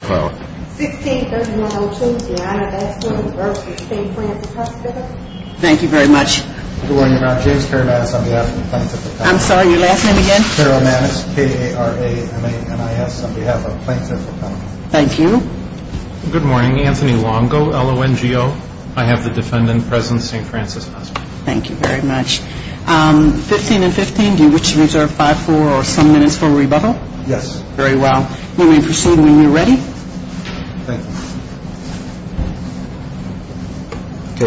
Good morning, Anthony Longo, L-O-N-G-O. I have the defendant present at St. Frances Hospital. Thank you very much. 15 and 15, do you wish to reserve 5, 4 or some minutes for rebuttal? Yes, very well. May we proceed when we are ready?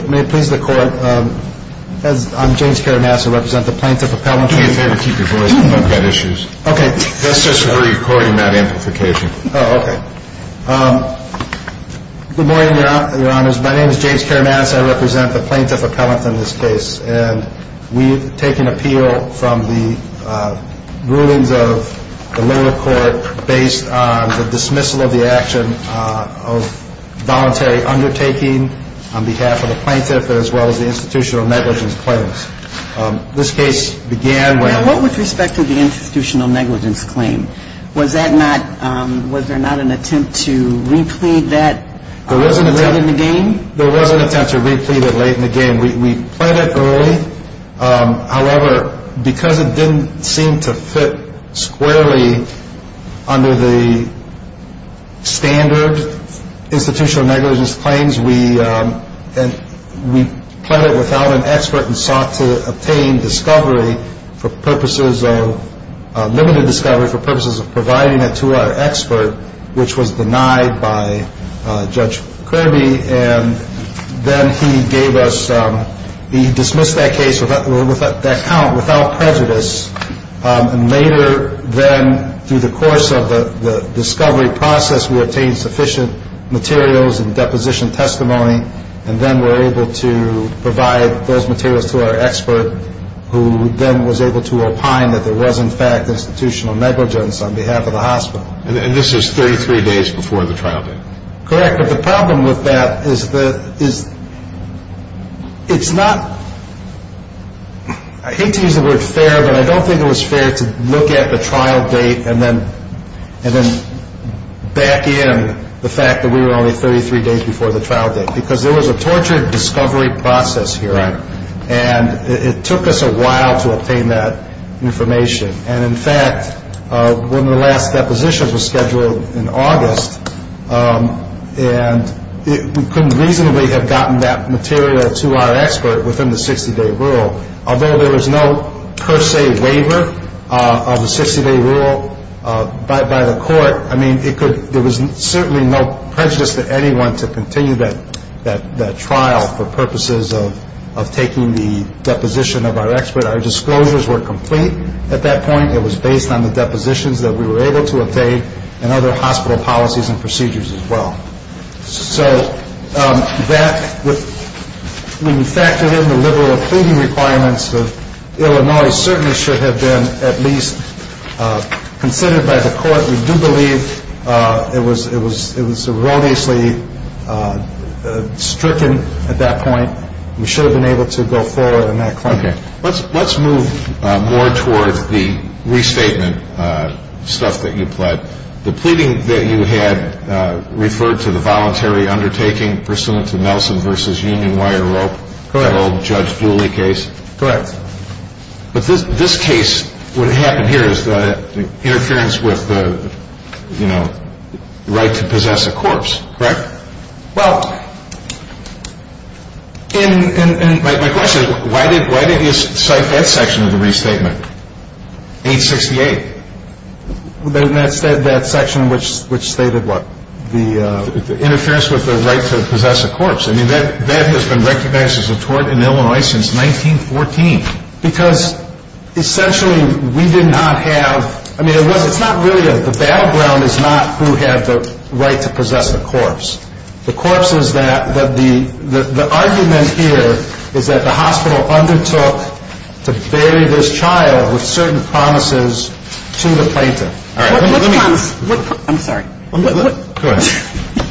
May it please the Court, I'm James Karamatis, I represent the Plaintiff Appellant. It's better to keep your voice down, we've got issues. Okay. That's just for recording that amplification. Oh, okay. Good morning, Your Honors. My name is James Karamatis, I represent the Plaintiff Appellant in this case. And we've taken appeal from the rulings of the lower court based on the dismissal of the action of voluntary undertaking on behalf of the plaintiff as well as the institutional negligence claims. This case began when... Now, what with respect to the institutional negligence claim, was that not, was there not an attempt to replead that late in the game? There was an attempt to replead it late in the game. We pled it early. However, because it didn't seem to fit squarely under the standard institutional negligence claims, we pled it without an expert and sought to obtain discovery for purposes of, providing it to our expert, which was denied by Judge Kirby. And then he gave us, he dismissed that case, that count without prejudice. And later then, through the course of the discovery process, we obtained sufficient materials and deposition testimony. And then we're able to provide those materials to our expert, who then was able to opine that there was in fact institutional negligence on behalf of the hospital. And this is 33 days before the trial date? Correct. But the problem with that is the, is, it's not, I hate to use the word fair, but I don't think it was fair to look at the trial date and then, back in the fact that we were only 33 days before the trial date. Because there was a tortured discovery process here. And it took us a while to obtain that information. And in fact, one of the last depositions was scheduled in August. And we couldn't reasonably have gotten that material to our expert within the 60-day rule. Although there was no per se waiver of the 60-day rule by the court, I mean, it could, there was certainly no prejudice to anyone to continue that trial for purposes of taking the deposition of our expert. Our disclosures were complete at that point. It was based on the depositions that we were able to obtain and other hospital policies and procedures as well. So that, when you factor in the liberal pleading requirements of Illinois, certainly should have been at least considered by the court. We do believe it was erroneously stricken at that point. We should have been able to go forward on that claim. Okay. Let's move more towards the restatement stuff that you pled. The pleading that you had referred to the voluntary undertaking pursuant to Nelson v. Union Wire Rope. Correct. The old Judge Dooley case. Correct. But this case, what happened here is the interference with the, you know, right to possess a corpse, correct? Well, and my question is, why did you cite that section of the restatement, 868? That section which stated what? The interference with the right to possess a corpse. I mean, that has been recognized as a tort in Illinois since 1914. Because essentially we did not have, I mean, it's not really, the battleground is not who had the right to possess a corpse. The corpse is that, the argument here is that the hospital undertook to bury this child with certain promises to the plaintiff. All right. I'm sorry. Go ahead.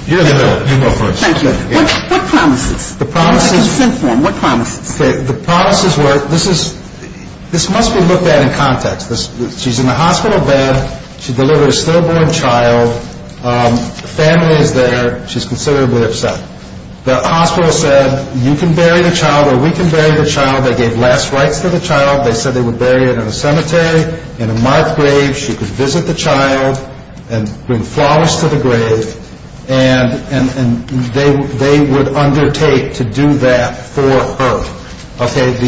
You go first. Thank you. What promises? The promises. What promises? The promises were, this must be looked at in context. She's in the hospital bed. She delivered a stillborn child. The family is there. She's considerably upset. The hospital said, you can bury the child or we can bury the child. They gave last rites to the child. They said they would bury it in a cemetery, in a marked grave. She could visit the child and bring flowers to the grave. And they would undertake to do that for her. All right.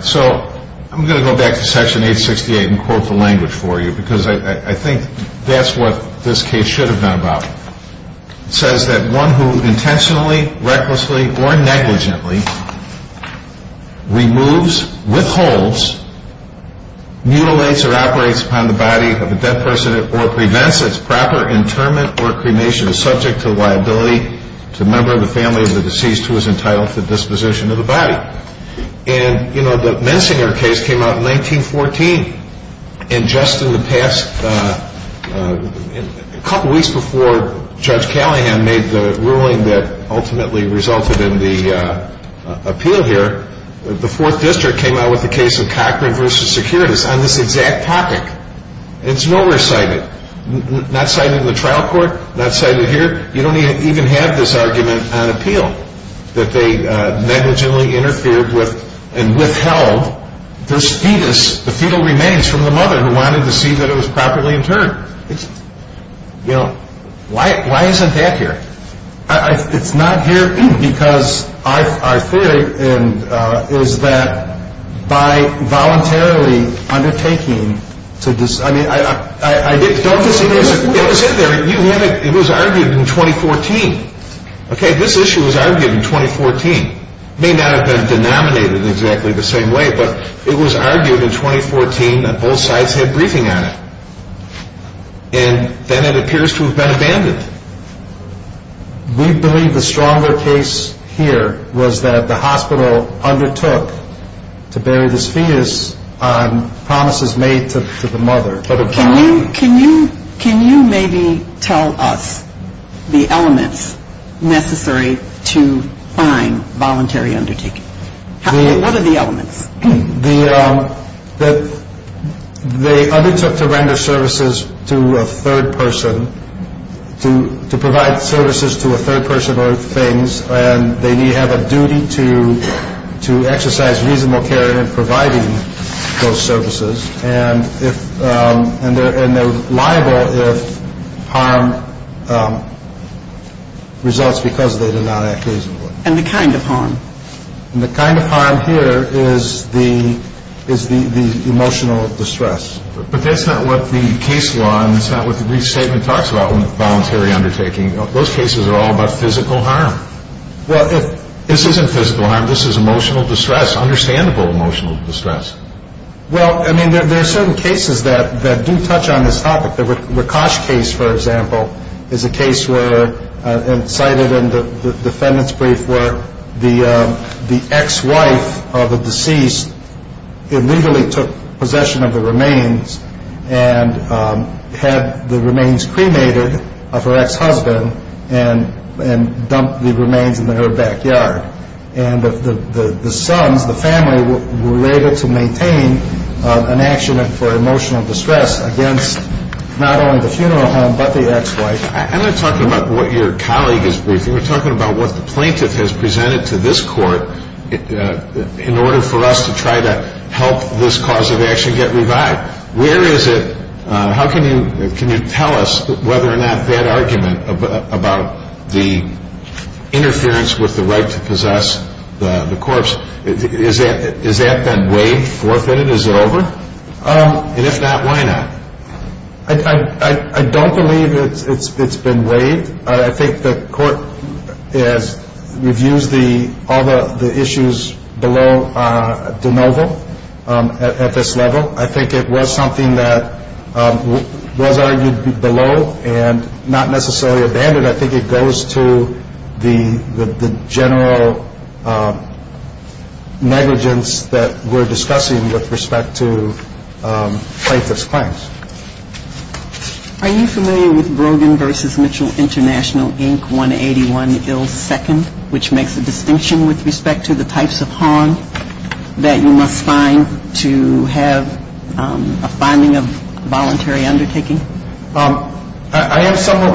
So I'm going to go back to section 868 and quote the language for you. Because I think that's what this case should have been about. intentionally, recklessly, or negligently removes, withholds, mutilates or operates upon the body of a dead person or prevents its proper interment or cremation is subject to liability to a member of the family of the deceased who is entitled to disposition of the body. And, you know, the Mensinger case came out in 1914. And just in the past couple weeks before Judge Callahan made the ruling that ultimately resulted in the appeal here, the Fourth District came out with the case of Cochran v. Securitas on this exact topic. It's nowhere cited. Not cited in the trial court. Not cited here. You don't even have this argument on appeal that they negligently interfered with and withheld their fetus, the fetal remains from the mother who wanted to see that it was properly interred. It's, you know, why isn't that here? It's not here because our theory is that by voluntarily undertaking to, I mean, I didn't, don't just, it was in there. It was argued in 2014. Okay. This issue was argued in 2014. It may not have been denominated exactly the same way, but it was argued in 2014 that both sides had briefing on it. And then it appears to have been abandoned. We believe the stronger case here was that the hospital undertook to bury this fetus on promises made to the mother. Can you maybe tell us the elements necessary to find voluntary undertaking? What are the elements? The undertook to render services to a third person, to provide services to a third person or things, and they have a duty to exercise reasonable care in providing those services. And if, and they're liable if harm results because they did not act reasonably. And the kind of harm? And the kind of harm here is the emotional distress. But that's not what the case law and that's not what the brief statement talks about when voluntary undertaking. Those cases are all about physical harm. Well, if. This isn't physical harm. This is emotional distress, understandable emotional distress. Well, I mean, there are certain cases that do touch on this topic. The Rakosh case, for example, is a case where it's cited in the defendant's brief where the ex-wife of a deceased illegally took possession of the remains and had the remains cremated of her ex-husband and dumped the remains in her backyard. And the sons, the family, were able to maintain an action for emotional distress against not only the funeral home, but the ex-wife. I'm not talking about what your colleague is briefing. We're talking about what the plaintiff has presented to this court in order for us to try to help this cause of action get revived. Where is it? How can you tell us whether or not that argument about the interference with the right to possess the corpse, has that been waived, forfeited, is it over? And if not, why not? I don't believe it's been waived. I think the court reviews all the issues below de novo at this level. I think it was something that was argued below and not necessarily abandoned. I think it goes to the general negligence that we're discussing with respect to plaintiff's claims. Are you familiar with Brogan v. Mitchell International, Inc., 181 ill second, which makes a distinction with respect to the types of harm that you must find to have a finding of voluntary undertaking? I am somewhat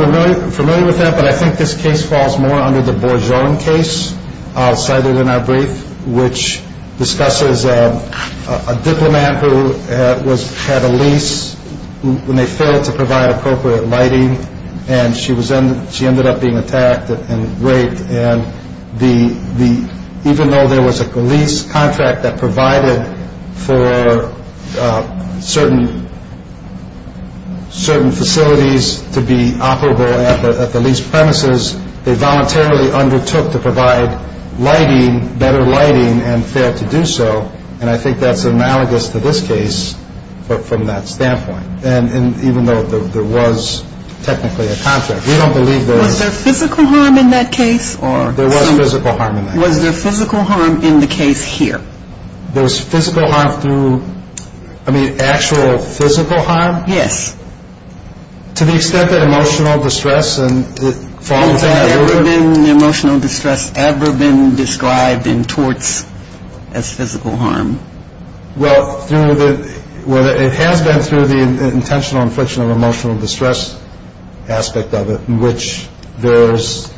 familiar with that, but I think this case falls more under the Borjon case cited in our brief, which discusses a diplomat who had a lease when they failed to provide appropriate lighting, and she ended up being attacked and raped, and even though there was a lease contract that provided for certain facilities to be operable at the lease premises, they voluntarily undertook to provide better lighting and failed to do so, and I think that's analogous to this case from that standpoint. And even though there was technically a contract, we don't believe there was. Was there physical harm in that case? There was physical harm in that case. Was there physical harm in the case here? There was physical harm through, I mean, actual physical harm? Yes. To the extent that emotional distress and the fall of the family order. Has emotional distress ever been described in torts as physical harm? Well, it has been through the intentional infliction of emotional distress aspect of it, in which there's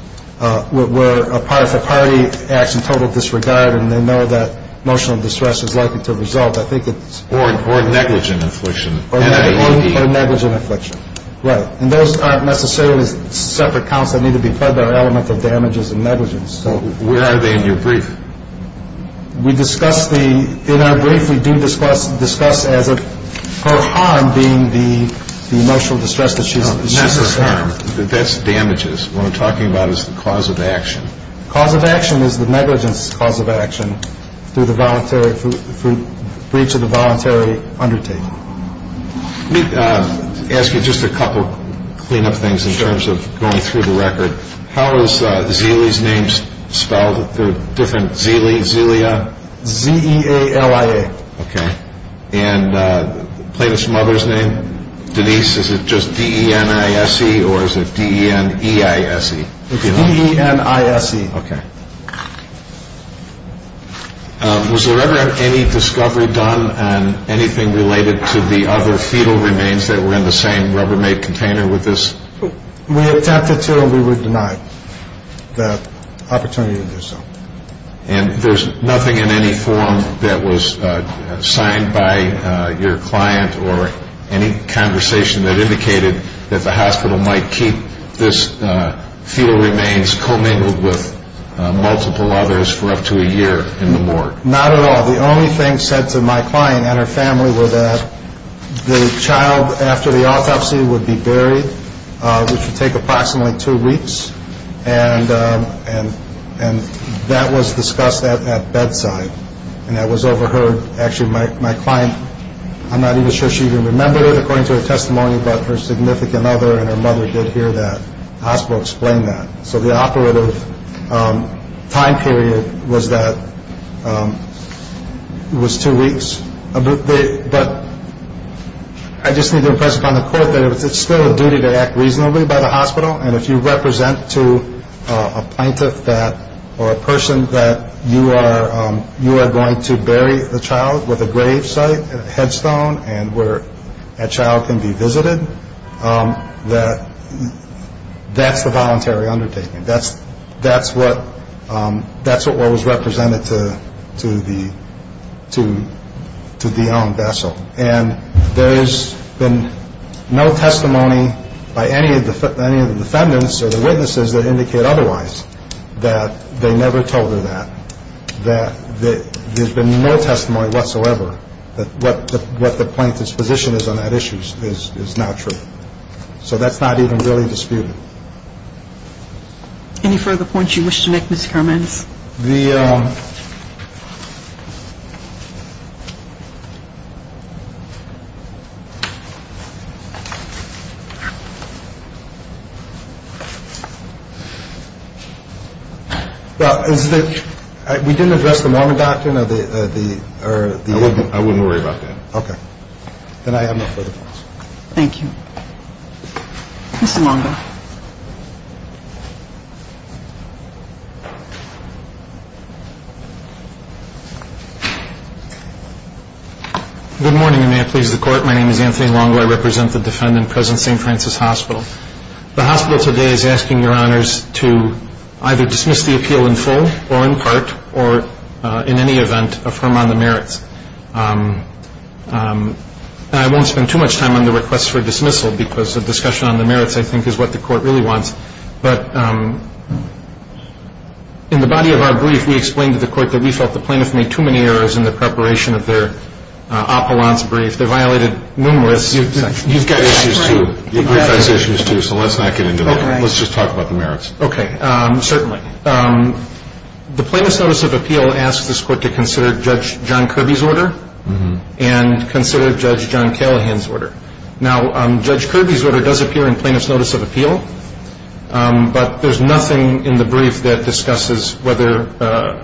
where if a party acts in total disregard and they know that emotional distress is likely to result, I think it's… Or negligent infliction. Or negligent infliction, right. And those aren't necessarily separate counts that need to be fed, there are elements of damages and negligence. Where are they in your brief? We discuss the… In our brief we do discuss as if her harm being the emotional distress that she's… That's damages. What I'm talking about is the cause of action. Cause of action is the negligence cause of action through the voluntary… breach of the voluntary undertaking. Let me ask you just a couple clean-up things in terms of going through the record. How is Zealy's name spelled? Is there a different Zealy, Zealia? Z-E-A-L-I-A. Okay. And plaintiff's mother's name? Denise, is it just D-E-N-I-S-E or is it D-E-N-E-I-S-E? It's D-E-N-I-S-E. Okay. Was there ever any discovery done on anything related to the other fetal remains that were in the same Rubbermaid container with this? We attempted to and we were denied the opportunity to do so. And there's nothing in any form that was signed by your client or any conversation that indicated that the hospital might keep this fetal remains commingled with multiple others for up to a year in the morgue? Not at all. The only thing said to my client and her family was that the child after the autopsy would be buried, which would take approximately two weeks, and that was discussed at bedside. And that was overheard. Actually, my client, I'm not even sure she even remembered it, according to her testimony, but her significant other and her mother did hear that. The hospital explained that. So the operative time period was two weeks. But I just need to impress upon the court that it's still a duty to act reasonably by the hospital, and if you represent to a plaintiff or a person that you are going to bury the child with a grave site, a headstone, and where that child can be visited, that's the voluntary undertaking. That's what was represented to the young vessel. And there's been no testimony by any of the defendants or the witnesses that indicate otherwise that they never told her that, that there's been no testimony whatsoever that what the plaintiff's position is on that issue is not true. So that's not even really disputed. Any further points you wish to make, Mr. Hermans? The – well, is the – we didn't address the Mormon doctrine or the – or the – I wouldn't worry about that. Okay. Then I have no further questions. Thank you. Mr. Longo. Good morning, and may it please the Court. My name is Anthony Longo. I represent the defendant present at St. Francis Hospital. The hospital today is asking your honors to either dismiss the appeal in full or in part or in any event affirm on the merits. I won't spend too much time on the request for dismissal because the discussion on the merits, I think, is what the Court really wants. But in the body of our brief, we explained to the Court that we felt the plaintiff made too many errors in the preparation of their appellant's brief. They violated numerous sections. You've got issues, too. The brief has issues, too, so let's not get into that. Okay. Let's just talk about the merits. Okay. Certainly. The plaintiff's notice of appeal asks this Court to consider Judge John Kirby's order and consider Judge John Callahan's order. Now, Judge Kirby's order does appear in plaintiff's notice of appeal, but there's nothing in the brief that discusses whether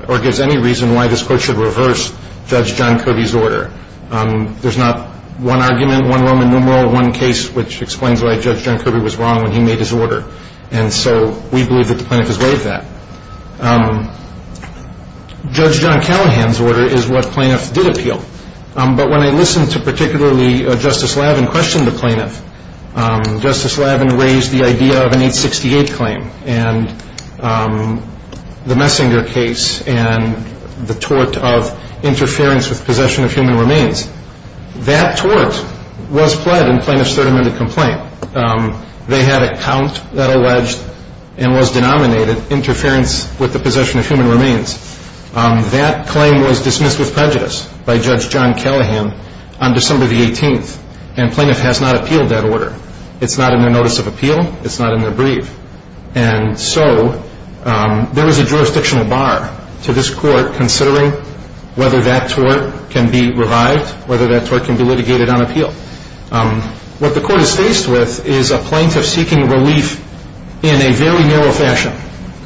or gives any reason why this Court should reverse Judge John Kirby's order. There's not one argument, one Roman numeral, one case which explains why Judge John Kirby was wrong when he made his order. And so we believe that the plaintiff has waived that. Judge John Callahan's order is what plaintiffs did appeal. But when I listened to particularly Justice Laven question the plaintiff, Justice Laven raised the idea of an 868 claim and the Messinger case and the tort of interference with possession of human remains. That tort was pled in plaintiff's third amendment complaint. They had a count that alleged and was denominated interference with the possession of human remains. That claim was dismissed with prejudice by Judge John Callahan on December the 18th, and plaintiff has not appealed that order. It's not in their notice of appeal. It's not in their brief. And so there is a jurisdictional bar to this Court considering whether that tort can be revived, whether that tort can be litigated on appeal. What the Court is faced with is a plaintiff seeking relief in a very narrow fashion.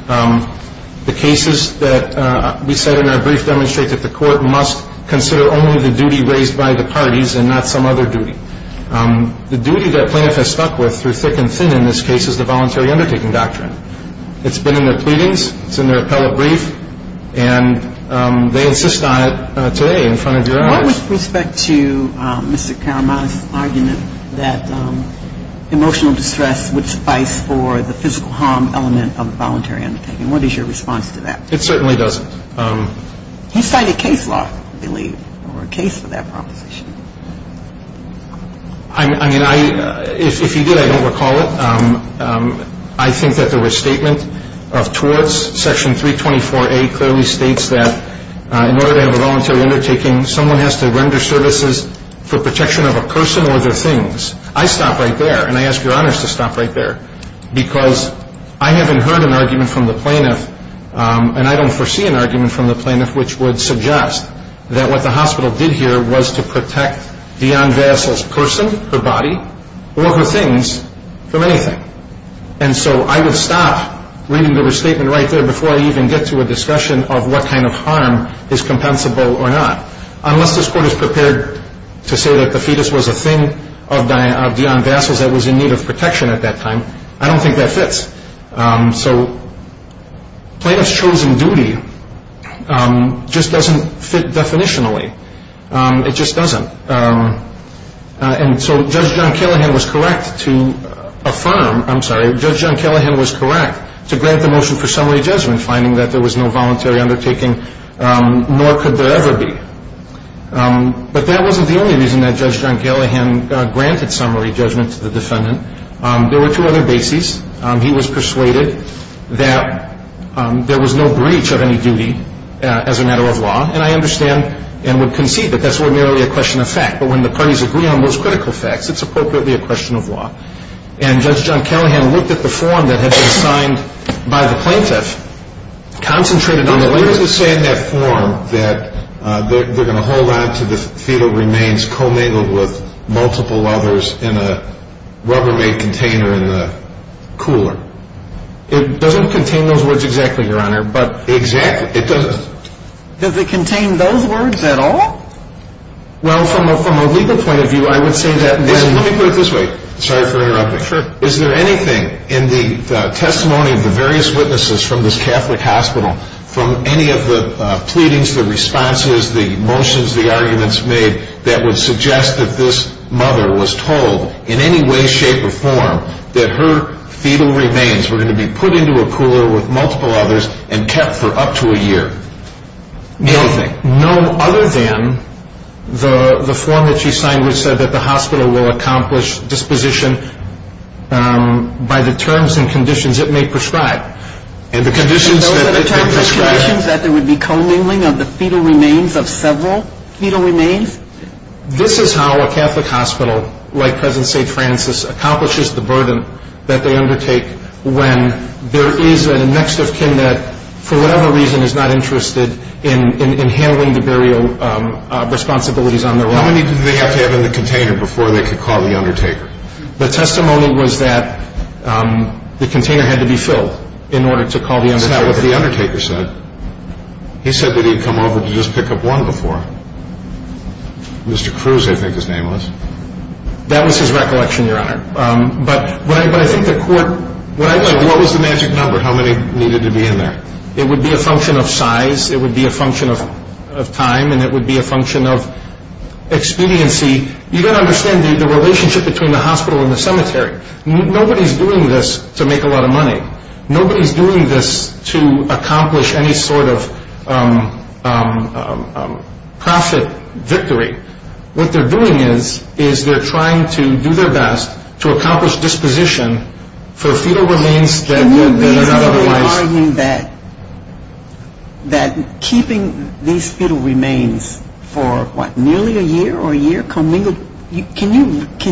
The cases that we cite in our brief demonstrate that the Court must consider only the duty raised by the parties and not some other duty. The duty that plaintiff has stuck with through thick and thin in this case is the voluntary undertaking doctrine. It's been in their pleadings. It's in their appellate brief. And they insist on it today in front of your eyes. With respect to Mr. Caramaz's argument that emotional distress would suffice for the physical harm element of the voluntary undertaking, what is your response to that? It certainly doesn't. He cited case law, I believe, or a case for that proposition. I mean, if he did, I don't recall it. I think that the restatement of torts, Section 324A, clearly states that in order to have a voluntary undertaking, someone has to render services for protection of a person or their things. I stop right there, and I ask Your Honors to stop right there, because I haven't heard an argument from the plaintiff, and I don't foresee an argument from the plaintiff which would suggest that what the hospital did here was to protect the young vassal's person, her body, or her things from anything. And so I would stop reading the restatement right there before I even get to a discussion of what kind of harm is compensable or not. Unless this Court is prepared to say that the fetus was a thing of Dionne Vassal's that was in need of protection at that time, I don't think that fits. So plaintiff's chosen duty just doesn't fit definitionally. It just doesn't. And so Judge John Callahan was correct to affirm, I'm sorry, Judge John Callahan was correct to grant the motion for summary judgment, finding that there was no voluntary undertaking, nor could there ever be. But that wasn't the only reason that Judge John Callahan granted summary judgment to the defendant. There were two other bases. He was persuaded that there was no breach of any duty as a matter of law, and I understand and would concede that that's ordinarily a question of fact. But when the parties agree on those critical facts, it's appropriately a question of law. And Judge John Callahan looked at the form that had been signed by the plaintiff, concentrated on the letter. Didn't it say in that form that they're going to hold on to the fetal remains commingled with multiple others in a rubber-made container in the cooler? It doesn't contain those words exactly, Your Honor. Exactly. It doesn't. Does it contain those words at all? Well, from a legal point of view, I would say that when Let me put it this way. Sorry for interrupting. Sure. Is there anything in the testimony of the various witnesses from this Catholic hospital, from any of the pleadings, the responses, the motions, the arguments made, that would suggest that this mother was told in any way, shape, or form that her fetal remains were going to be put into a cooler with multiple others and kept for up to a year? Anything. No other than the form that she signed which said that the hospital will accomplish disposition by the terms and conditions it may prescribe. And those are the terms and conditions that there would be commingling of the fetal remains of several fetal remains? This is how a Catholic hospital, like President St. Francis, accomplishes the burden that they undertake when there is a next of kin that, for whatever reason, is not interested in handling the burial responsibilities on their own. How many did they have to have in the container before they could call the undertaker? The testimony was that the container had to be filled in order to call the undertaker. That's not what the undertaker said. He said that he'd come over to just pick up one before. Mr. Cruz, I think his name was. That was his recollection, Your Honor. But I think the court What was the magic number, how many needed to be in there? It would be a function of size. It would be a function of time. And it would be a function of expediency. You've got to understand the relationship between the hospital and the cemetery. Nobody's doing this to make a lot of money. Nobody's doing this to accomplish any sort of profit victory. What they're doing is they're trying to do their best to accomplish disposition for fetal remains that are not otherwise Can you reasonably argue that keeping these fetal remains for, what, nearly a year or a year? Can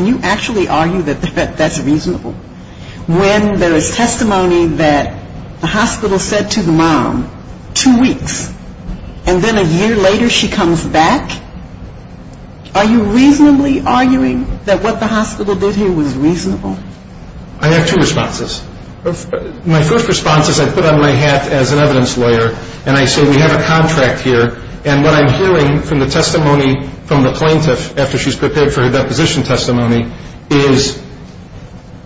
you actually argue that that's reasonable? When there is testimony that the hospital said to the mom, two weeks, and then a year later she comes back, are you reasonably arguing that what the hospital did here was reasonable? I have two responses. My first response is I put on my hat as an evidence lawyer and I say we have a contract here. And what I'm hearing from the testimony from the plaintiff after she's prepared for her deposition testimony is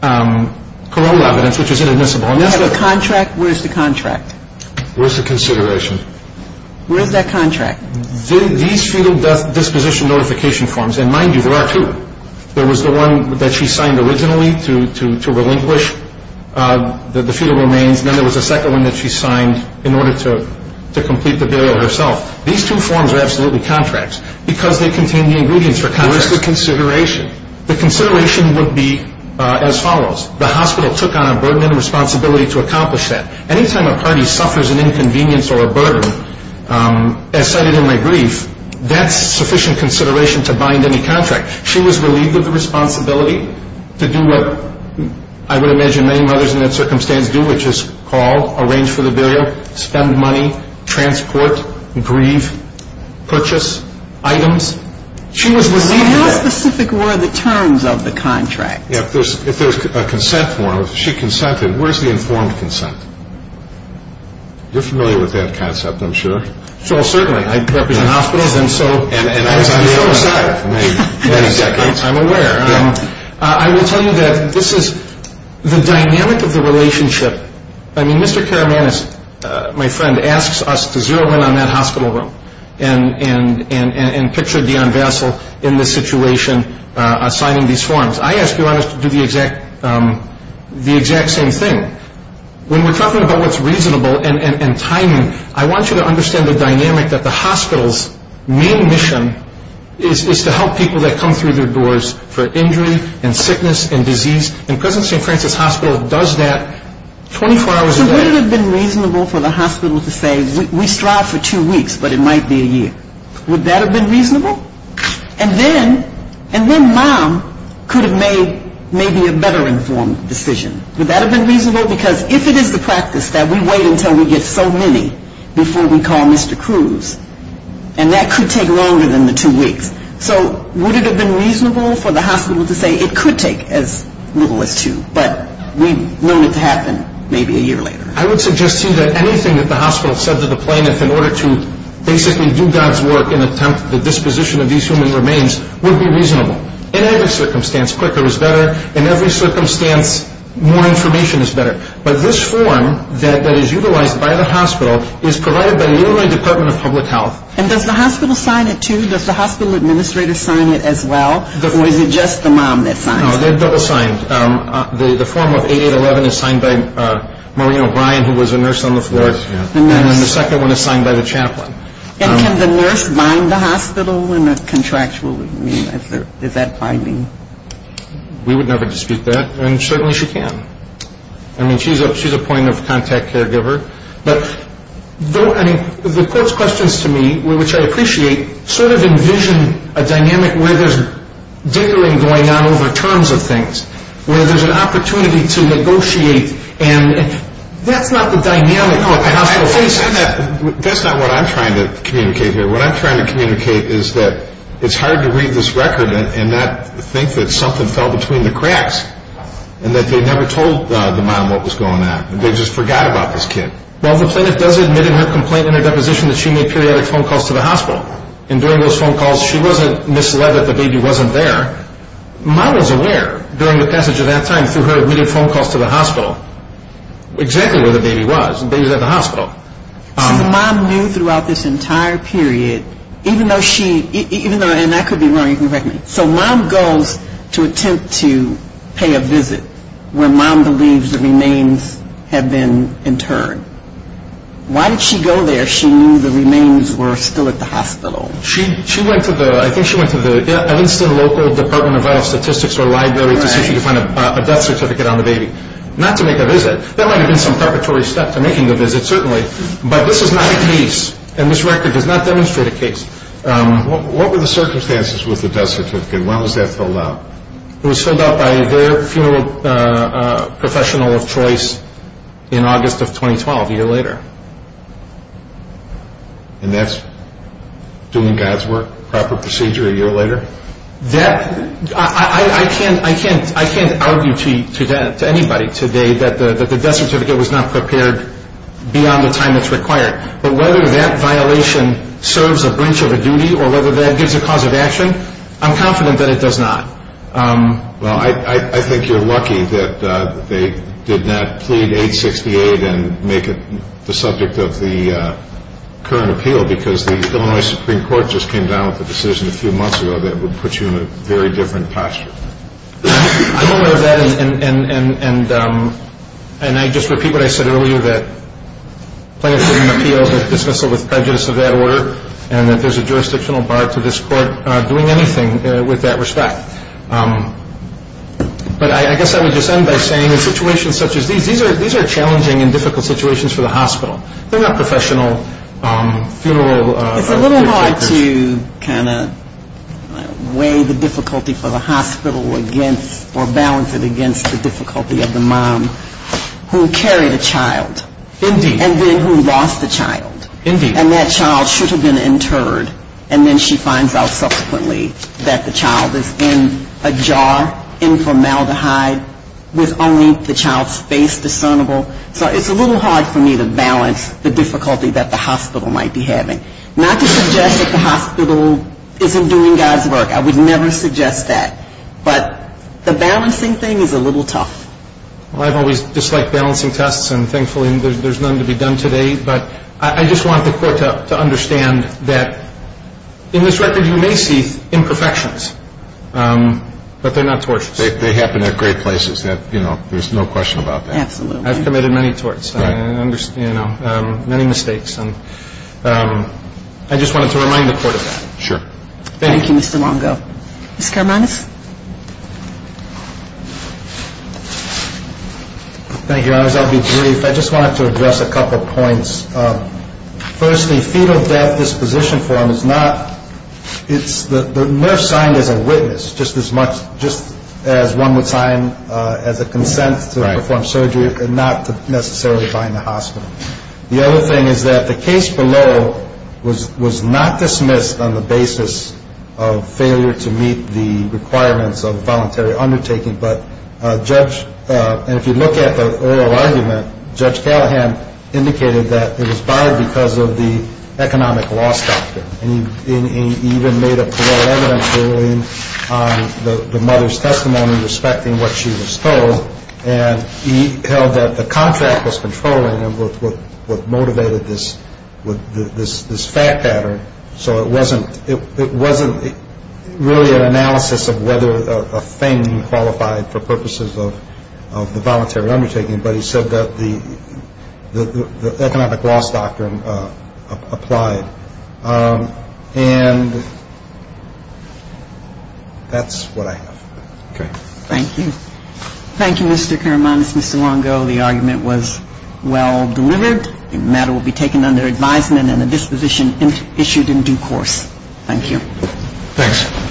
parole evidence, which is inadmissible. You have a contract. Where's the contract? Where's the consideration? Where's that contract? These fetal disposition notification forms, and mind you, there are two. There was the one that she signed originally to relinquish the fetal remains. Then there was a second one that she signed in order to complete the burial herself. These two forms are absolutely contracts because they contain the ingredients for contracts. Where's the consideration? The consideration would be as follows. The hospital took on a burden and a responsibility to accomplish that. Any time a party suffers an inconvenience or a burden, as cited in my brief, that's sufficient consideration to bind any contract. She was relieved of the responsibility to do what I would imagine many mothers in that circumstance do, which is call, arrange for the burial, spend money, transport, grieve, purchase items. She was relieved of that. How specific were the terms of the contract? If there's a consent form, if she consented, where's the informed consent? You're familiar with that concept, I'm sure. Well, certainly. I represent hospitals, and so I'm aware. I will tell you that this is the dynamic of the relationship. I mean, Mr. Karamanis, my friend, asks us to zero in on that hospital room and picture Dion Vassil in this situation signing these forms. I ask Dion to do the exact same thing. When we're talking about what's reasonable and timing, I want you to understand the dynamic that the hospital's main mission is to help people that come through their doors for injury and sickness and disease, and President St. Francis Hospital does that 24 hours a day. So would it have been reasonable for the hospital to say, we strive for two weeks, but it might be a year? Would that have been reasonable? And then Mom could have made maybe a better informed decision. Would that have been reasonable? Because if it is the practice that we wait until we get so many before we call Mr. Cruz, and that could take longer than the two weeks, so would it have been reasonable for the hospital to say, it could take as little as two, but we want it to happen maybe a year later? I would suggest to you that anything that the hospital said to the plaintiff in order to basically do God's work and attempt the disposition of these human remains would be reasonable. In every circumstance, quicker is better. In every circumstance, more information is better. But this form that is utilized by the hospital is provided by the Illinois Department of Public Health. And does the hospital sign it too? Does the hospital administrator sign it as well? Or is it just the mom that signs it? No, they're double signed. The form of 8811 is signed by Maureen O'Brien, who was a nurse on the floor. And then the second one is signed by the chaplain. And can the nurse bind the hospital in a contractual way? I mean, is that binding? We would never dispute that, and certainly she can. I mean, she's a point of contact caregiver. But the court's questions to me, which I appreciate, sort of envision a dynamic where there's diggering going on over terms of things, where there's an opportunity to negotiate, and that's not the dynamic the hospital faces. That's not what I'm trying to communicate here. What I'm trying to communicate is that it's hard to read this record and not think that something fell between the cracks and that they never told the mom what was going on. They just forgot about this kid. Well, the plaintiff does admit in her complaint and her deposition that she made periodic phone calls to the hospital. And during those phone calls, she wasn't misled that the baby wasn't there. Mom was aware during the passage of that time through her admitting phone calls to the hospital exactly where the baby was. The baby was at the hospital. So the mom knew throughout this entire period, even though she – and that could be wrong. You can correct me. So mom goes to attempt to pay a visit where mom believes the remains had been interred. Why did she go there if she knew the remains were still at the hospital? She went to the – I think she went to the – I think it's the local department of vital statistics or library to see if she could find a death certificate on the baby. Not to make a visit. That might have been some preparatory step to making the visit, certainly. But this is not a case, and this record does not demonstrate a case. What were the circumstances with the death certificate? When was that filled out? It was filled out by their funeral professional of choice in August of 2012, a year later. And that's doing God's work, proper procedure, a year later? I can't argue to anybody today that the death certificate was not prepared beyond the time it's required. But whether that violation serves a branch of a duty or whether that gives a cause of action, I'm confident that it does not. Well, I think you're lucky that they did not plead 868 and make it the subject of the current appeal because the Illinois Supreme Court just came down with a decision a few months ago that would put you in a very different posture. I'm aware of that, and I just repeat what I said earlier, that plaintiff's written appeals are dismissal with prejudice of that order and that there's a jurisdictional bar to this court doing anything with that respect. But I guess I would just end by saying in situations such as these, these are challenging and difficult situations for the hospital. They're not professional funeral caregivers. It's a little hard to kind of weigh the difficulty for the hospital against or balance it against the difficulty of the mom who carried a child. Indeed. And then who lost a child. Indeed. And that child should have been interred, and then she finds out subsequently that the child is in a jar, in formaldehyde, with only the child's face discernible. So it's a little hard for me to balance the difficulty that the hospital might be having. Not to suggest that the hospital isn't doing God's work. I would never suggest that. But the balancing thing is a little tough. Well, I've always disliked balancing tests, and thankfully there's none to be done today. But I just want the court to understand that in this record you may see imperfections, but they're not tortures. They happen at great places. You know, there's no question about that. Absolutely. I've committed many torts, you know, many mistakes. And I just wanted to remind the court of that. Thank you. Thank you, Mr. Longo. Mr. Karmanis. Thank you, Your Honors. I'll be brief. I just wanted to address a couple points. First, the fetal death disposition form is not the nurse signed as a witness, just as one would sign as a consent to perform surgery and not necessarily find the hospital. The other thing is that the case below was not dismissed on the basis of failure to meet the requirements of a voluntary undertaking. But Judge – and if you look at the oral argument, Judge Callahan indicated that it was barred because of the economic loss factor. And he even made a plural evidence ruling on the mother's testimony respecting what she was told. And he held that the contract was controlling him with what motivated this fact pattern. So it wasn't really an analysis of whether a thing qualified for purposes of the voluntary undertaking, but he said that the economic loss doctrine applied. And that's what I have. Okay. Thank you. Thank you, Mr. Karmanis, Mr. Longo. The argument was well delivered. The matter will be taken under advisement and the disposition issued in due course. Thank you. Thanks.